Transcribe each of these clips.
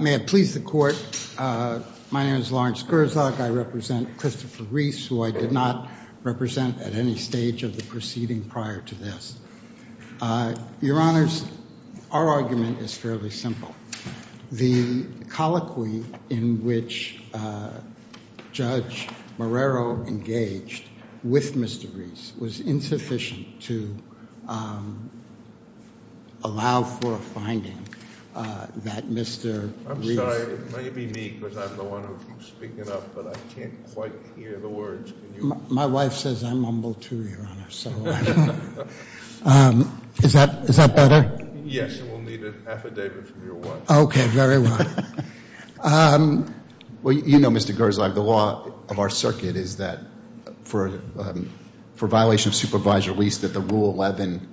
May it please the Court, my name is Lawrence Gerzog. I represent Christopher Reese, who I did not represent at any stage of the proceeding prior to this. Your Honor, our argument is fairly simple. The colloquy in which Judge Marrero engaged with Mr. Reese was insufficient to allow for a finding that Mr. Reese I'm sorry, it may be me because I'm the one who keeps speaking up, but I can't quite hear the words. My wife says I mumble too, Your Honor, so I don't know. Is that better? Yes, you will need an affidavit from your wife. Okay, very well. Well, you know, Mr. Gerzog, the law of our circuit is that for violation of supervisory release that the Rule 11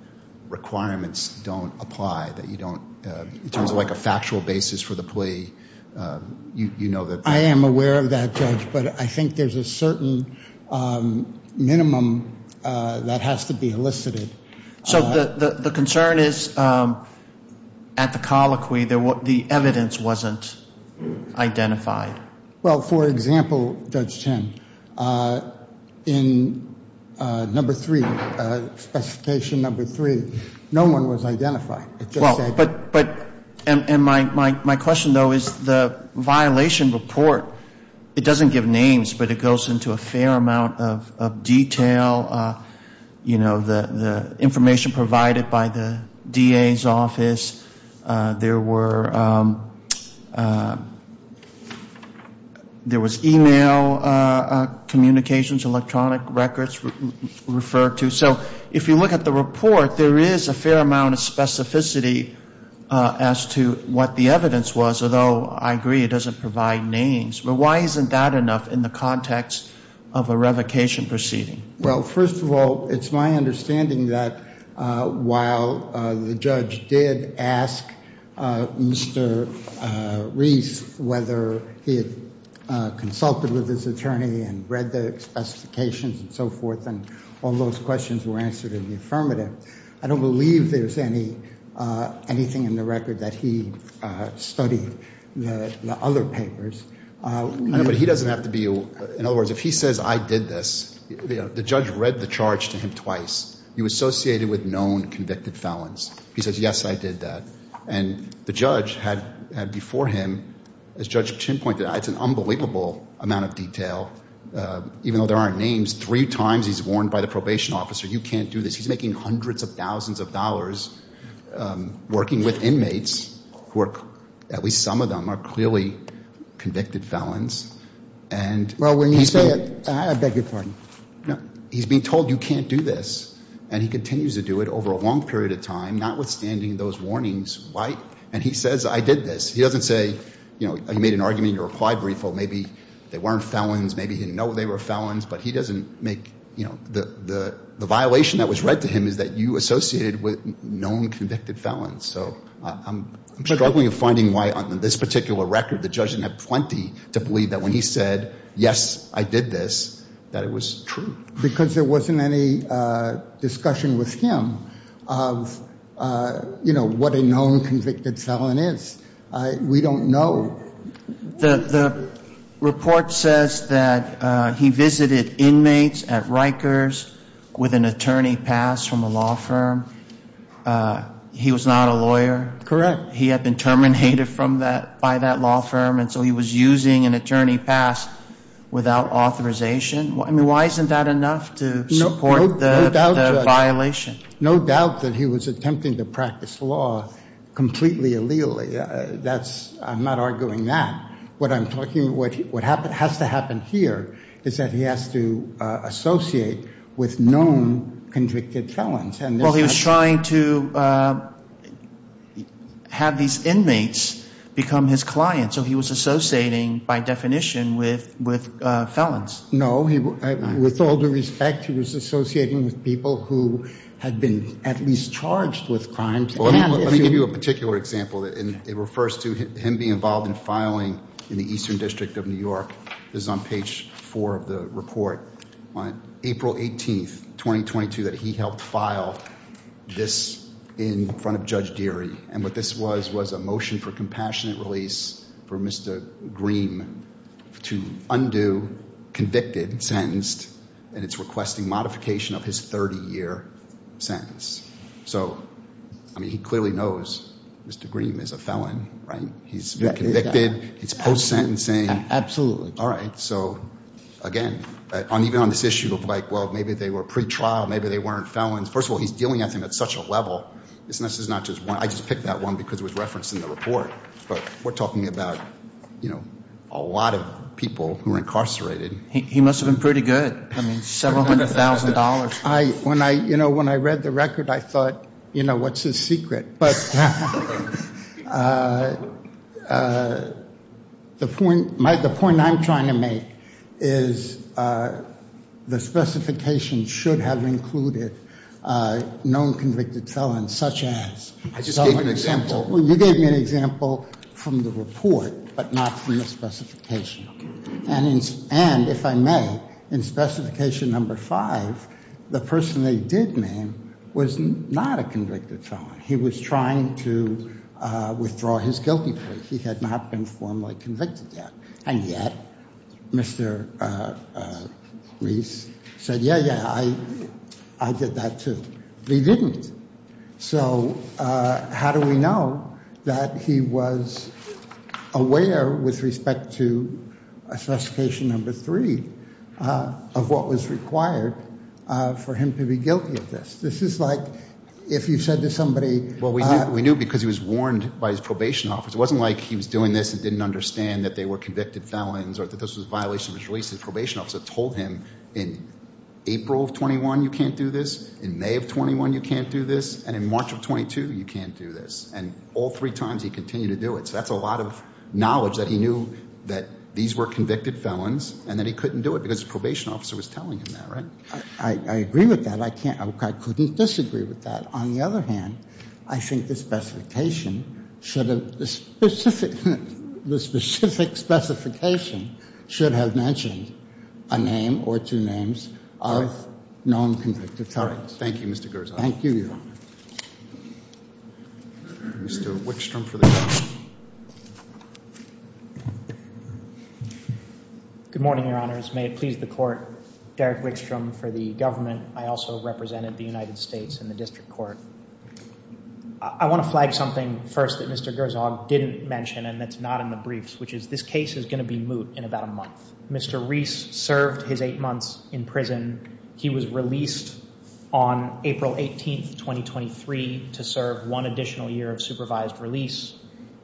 requirements don't apply, that you don't, in terms of like a factual basis for the plea, you know that I am aware of that, Judge, but I think there's a certain minimum that has to be elicited. So the concern is at the colloquy the evidence wasn't identified. Well, for example, Judge Chen, in number three, specification number three, no one was identified. Well, but, and my question, though, is the violation report, it doesn't give names, but it goes into a fair amount of detail. You know, the information provided by the DA's office, there were, there was e-mail communications, electronic records referred to. So if you look at the report, there is a fair amount of specificity as to what the evidence was, although I agree it doesn't provide names. But why isn't that enough in the context of a revocation proceeding? Well, first of all, it's my understanding that while the judge did ask Mr. Reese whether he had consulted with his attorney and read the specifications and so forth, and all those questions were answered in the affirmative, I don't believe there's anything in the record that he studied the other papers. I know, but he doesn't have to be, in other words, if he says I did this, you know, the judge read the charge to him twice. He was associated with known convicted felons. He says, yes, I did that. And the judge had before him, as Judge Chen pointed out, it's an unbelievable amount of detail. Even though there aren't names, three times he's warned by the probation officer, you can't do this. He's making hundreds of thousands of dollars working with inmates who are, at least some of them, are clearly convicted felons. And he's being told you can't do this. And he continues to do it over a long period of time, notwithstanding those warnings. And he says I did this. He doesn't say, you know, you made an argument in your reply brief, or maybe they weren't felons, maybe he didn't know they were felons. But he doesn't make, you know, the violation that was read to him is that you associated with known convicted felons. So I'm struggling with finding why on this particular record the judge didn't have plenty to believe that when he said, yes, I did this, that it was true. Because there wasn't any discussion with him of, you know, what a known convicted felon is. We don't know. The report says that he visited inmates at Rikers with an attorney pass from a law firm. He was not a lawyer. Correct. He had been terminated from that, by that law firm. And so he was using an attorney pass without authorization. I mean, why isn't that enough to support the violation? No doubt that he was attempting to practice law completely illegally. I'm not arguing that. What I'm talking, what has to happen here is that he has to associate with known convicted felons. Well, he was trying to have these inmates become his clients. So he was associating, by definition, with felons. No. With all due respect, he was associating with people who had been at least charged with crimes. Let me give you a particular example. It refers to him being involved in filing in the Eastern District of New York. This is on page four of the report. On April 18th, 2022, that he helped file this in front of Judge Deary. And what this was was a motion for compassionate release for Mr. Green to undo convicted, sentenced, and it's requesting modification of his 30-year sentence. So, I mean, he clearly knows Mr. Green is a felon, right? He's convicted. He's post-sentencing. Absolutely. All right. So, again, even on this issue of, like, well, maybe they were pretrial. Maybe they weren't felons. First of all, he's dealing at him at such a level. This is not just one. I just picked that one because it was referenced in the report. But we're talking about, you know, a lot of people who are incarcerated. He must have been pretty good. I mean, several hundred thousand dollars. You know, when I read the record, I thought, you know, what's his secret? But the point I'm trying to make is the specification should have included known convicted felons such as. I just gave an example. Well, you gave me an example from the report but not from the specification. And if I may, in specification number five, the person they did name was not a convicted felon. He was trying to withdraw his guilty plea. He had not been formally convicted yet. And yet, Mr. Reese said, yeah, yeah, I did that too. But he didn't. So how do we know that he was aware with respect to specification number three of what was required for him to be guilty of this? This is like if you said to somebody. Well, we knew because he was warned by his probation officer. It wasn't like he was doing this and didn't understand that they were convicted felons or that this was a violation of his release. His probation officer told him in April of 21, you can't do this. In May of 21, you can't do this. And in March of 22, you can't do this. And all three times he continued to do it. So that's a lot of knowledge that he knew that these were convicted felons and that he couldn't do it because his probation officer was telling him that, right? I agree with that. I couldn't disagree with that. On the other hand, I think the specification should have mentioned a name or two names of non-convicted felons. Thank you, Mr. Gershom. Thank you, Your Honor. Mr. Wickstrom for the government. Good morning, Your Honors. May it please the Court. Derek Wickstrom for the government. I also represented the United States in the district court. I want to flag something first that Mr. Gershom didn't mention and that's not in the briefs, which is this case is going to be moot in about a month. Mr. Reese served his eight months in prison. He was released on April 18, 2023, to serve one additional year of supervised release.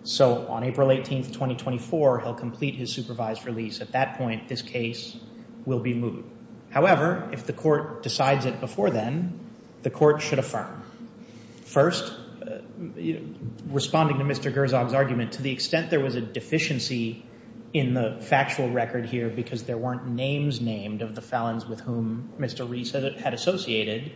So on April 18, 2024, he'll complete his supervised release. At that point, this case will be moot. However, if the court decides it before then, the court should affirm. First, responding to Mr. Gershom's argument, to the extent there was a deficiency in the factual record here because there weren't names named of the felons with whom Mr. Reese had associated,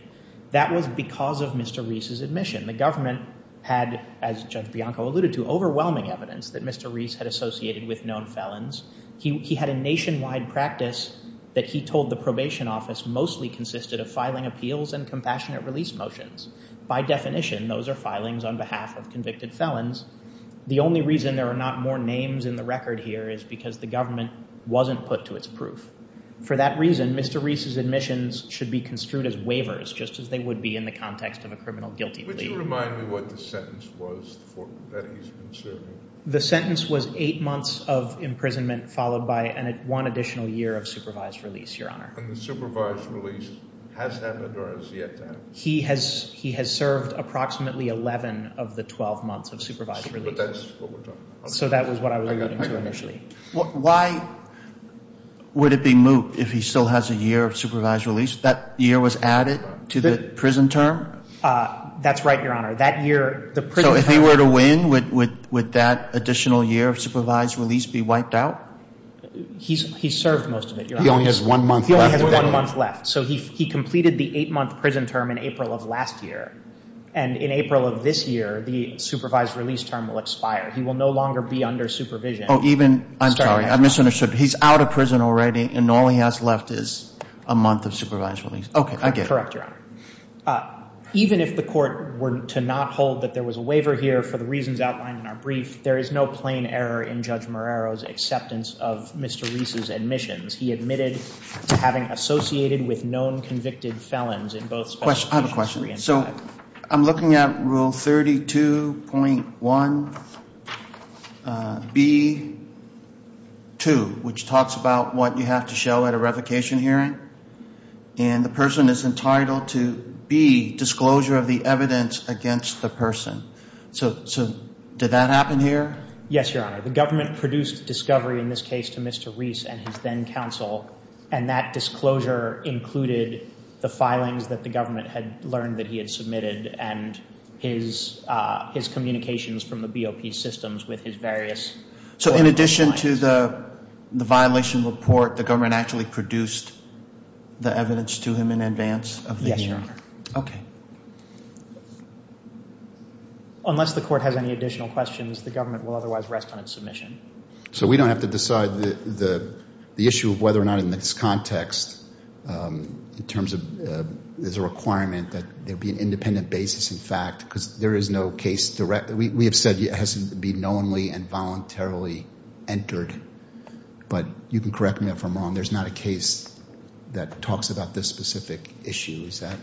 that was because of Mr. Reese's admission. The government had, as Judge Bianco alluded to, overwhelming evidence that Mr. Reese had associated with known felons. He had a nationwide practice that he told the probation office mostly consisted of filing appeals and compassionate release motions. By definition, those are filings on behalf of convicted felons. The only reason there are not more names in the record here is because the government wasn't put to its proof. For that reason, Mr. Reese's admissions should be construed as waivers just as they would be in the context of a criminal guilty plea. Would you remind me what the sentence was that he's been serving? The sentence was eight months of imprisonment followed by one additional year of supervised release, Your Honor. And the supervised release has happened or is yet to happen? He has served approximately 11 of the 12 months of supervised release. But that's what we're talking about. So that was what I was alluding to initially. Why would it be moot if he still has a year of supervised release? That year was added to the prison term? That's right, Your Honor. So if he were to win, would that additional year of supervised release be wiped out? He's served most of it, Your Honor. He only has one month left. He only has one month left. So he completed the eight-month prison term in April of last year. And in April of this year, the supervised release term will expire. He will no longer be under supervision. I'm sorry. I misunderstood. He's out of prison already, and all he has left is a month of supervised release. Okay, I get it. Correct, Your Honor. Even if the court were to not hold that there was a waiver here for the reasons outlined in our brief, there is no plain error in Judge Marrero's acceptance of Mr. Reese's admissions. He admitted to having associated with known convicted felons in both special cases. I have a question. So I'm looking at Rule 32.1B2, which talks about what you have to show at a revocation hearing. And the person is entitled to B, disclosure of the evidence against the person. So did that happen here? Yes, Your Honor. The government produced discovery in this case to Mr. Reese and his then-counsel, and that disclosure included the filings that the government had learned that he had submitted and his communications from the BOP systems with his various court appointments. So in addition to the violation report, the government actually produced the evidence to him in advance of the hearing? Yes, Your Honor. Okay. Unless the court has any additional questions, the government will otherwise rest on its submission. So we don't have to decide the issue of whether or not in this context, in terms of there's a requirement that there be an independent basis in fact, because there is no case direct. We have said it has to be knowingly and voluntarily entered, but you can correct me if I'm wrong. There's not a case that talks about this specific issue. Is that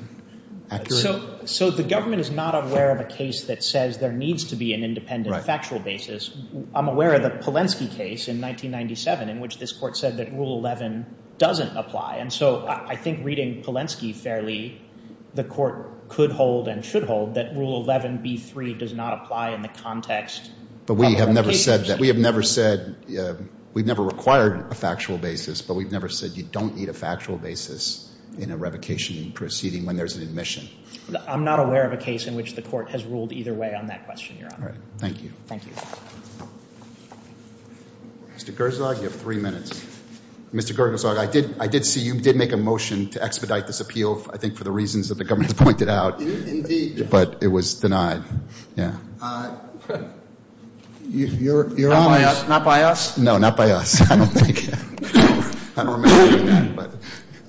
accurate? So the government is not aware of a case that says there needs to be an independent factual basis. I'm aware of the Polensky case in 1997 in which this court said that Rule 11 doesn't apply. And so I think reading Polensky fairly, the court could hold and should hold that Rule 11B3 does not apply in the context. But we have never said that. We have never said we've never required a factual basis, but we've never said you don't need a factual basis in a revocation proceeding when there's an admission. I'm not aware of a case in which the court has ruled either way on that question, Your Honor. All right. Thank you. Thank you. Mr. Gerzog, you have three minutes. Mr. Gerzog, I did see you did make a motion to expedite this appeal, I think for the reasons that the government has pointed out. Indeed. But it was denied. Yeah. Your Honor. Not by us? No, not by us. I don't think. I don't remember doing that, but.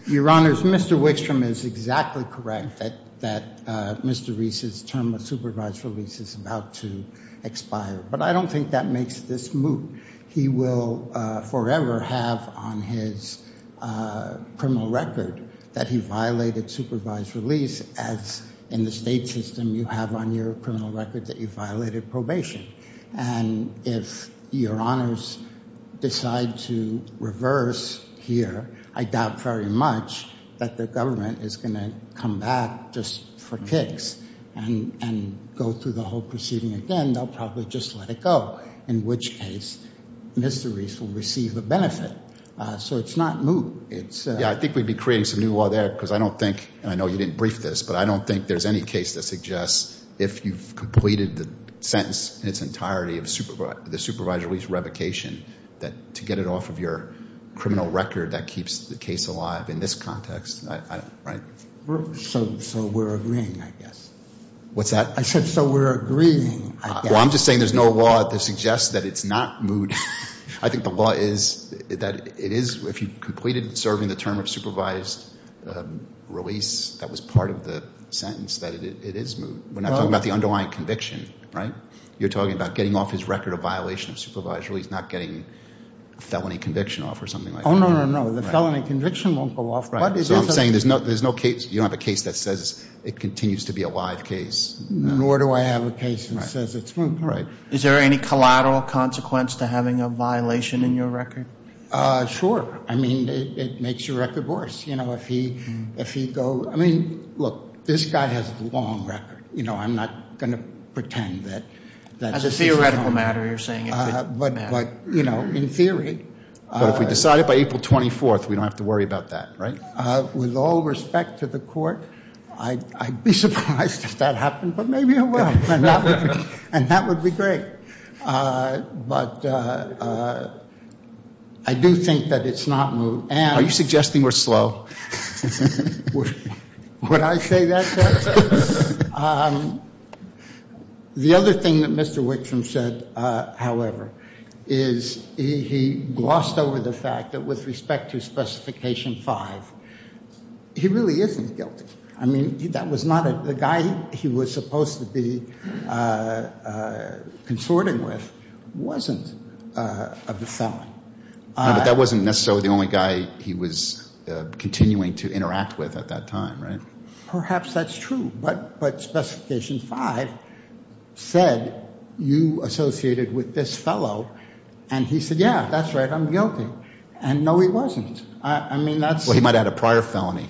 Your Honors, Mr. Wickstrom is exactly correct that Mr. Reese's term of supervised release is about to expire. But I don't think that makes this moot. He will forever have on his criminal record that he violated supervised release, as in the state system you have on your criminal record that you violated probation. And if Your Honors decide to reverse here, I doubt very much that the government is going to come back just for kicks and go through the whole proceeding again. They'll probably just let it go, in which case Mr. Reese will receive a benefit. So it's not moot. Yeah, I think we'd be creating some new law there because I don't think, and I know you didn't brief this, but I don't think there's any case that suggests if you've completed the sentence in its entirety of the supervised release revocation, that to get it off of your criminal record that keeps the case alive in this context, right? So we're agreeing, I guess. What's that? I said so. We're agreeing, I guess. Well, I'm just saying there's no law that suggests that it's not moot. I think the law is that it is, if you completed serving the term of supervised release, that was part of the sentence, that it is moot. We're not talking about the underlying conviction, right? You're talking about getting off his record of violation of supervised release, not getting felony conviction off or something like that. Oh, no, no, no. The felony conviction won't go off. Right. So I'm saying there's no case, you don't have a case that says it continues to be a live case. Nor do I have a case that says it's moot. Right. Is there any collateral consequence to having a violation in your record? Sure. I mean, it makes your record worse. You know, if he go, I mean, look, this guy has a long record. You know, I'm not going to pretend that. As a theoretical matter, you're saying. But, you know, in theory. But if we decide it by April 24th, we don't have to worry about that, right? With all respect to the court, I'd be surprised if that happened, but maybe it will. And that would be great. But I do think that it's not moot. Are you suggesting we're slow? Would I say that? The other thing that Mr. Wickstrom said, however, is he glossed over the fact that with respect to Specification 5, he really isn't guilty. I mean, that was not a guy he was supposed to be consorting with wasn't a felon. But that wasn't necessarily the only guy he was continuing to interact with at that time, right? Perhaps that's true. But Specification 5 said you associated with this fellow. And he said, yeah, that's right, I'm guilty. And, no, he wasn't. I mean, that's. Well, he might have had a prior felony.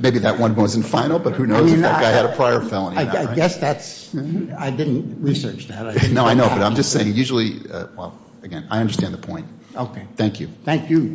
Maybe that one wasn't final, but who knows if that guy had a prior felony. I guess that's. I didn't research that. No, I know. But I'm just saying, usually. Well, again, I understand the point. Okay. Thank you.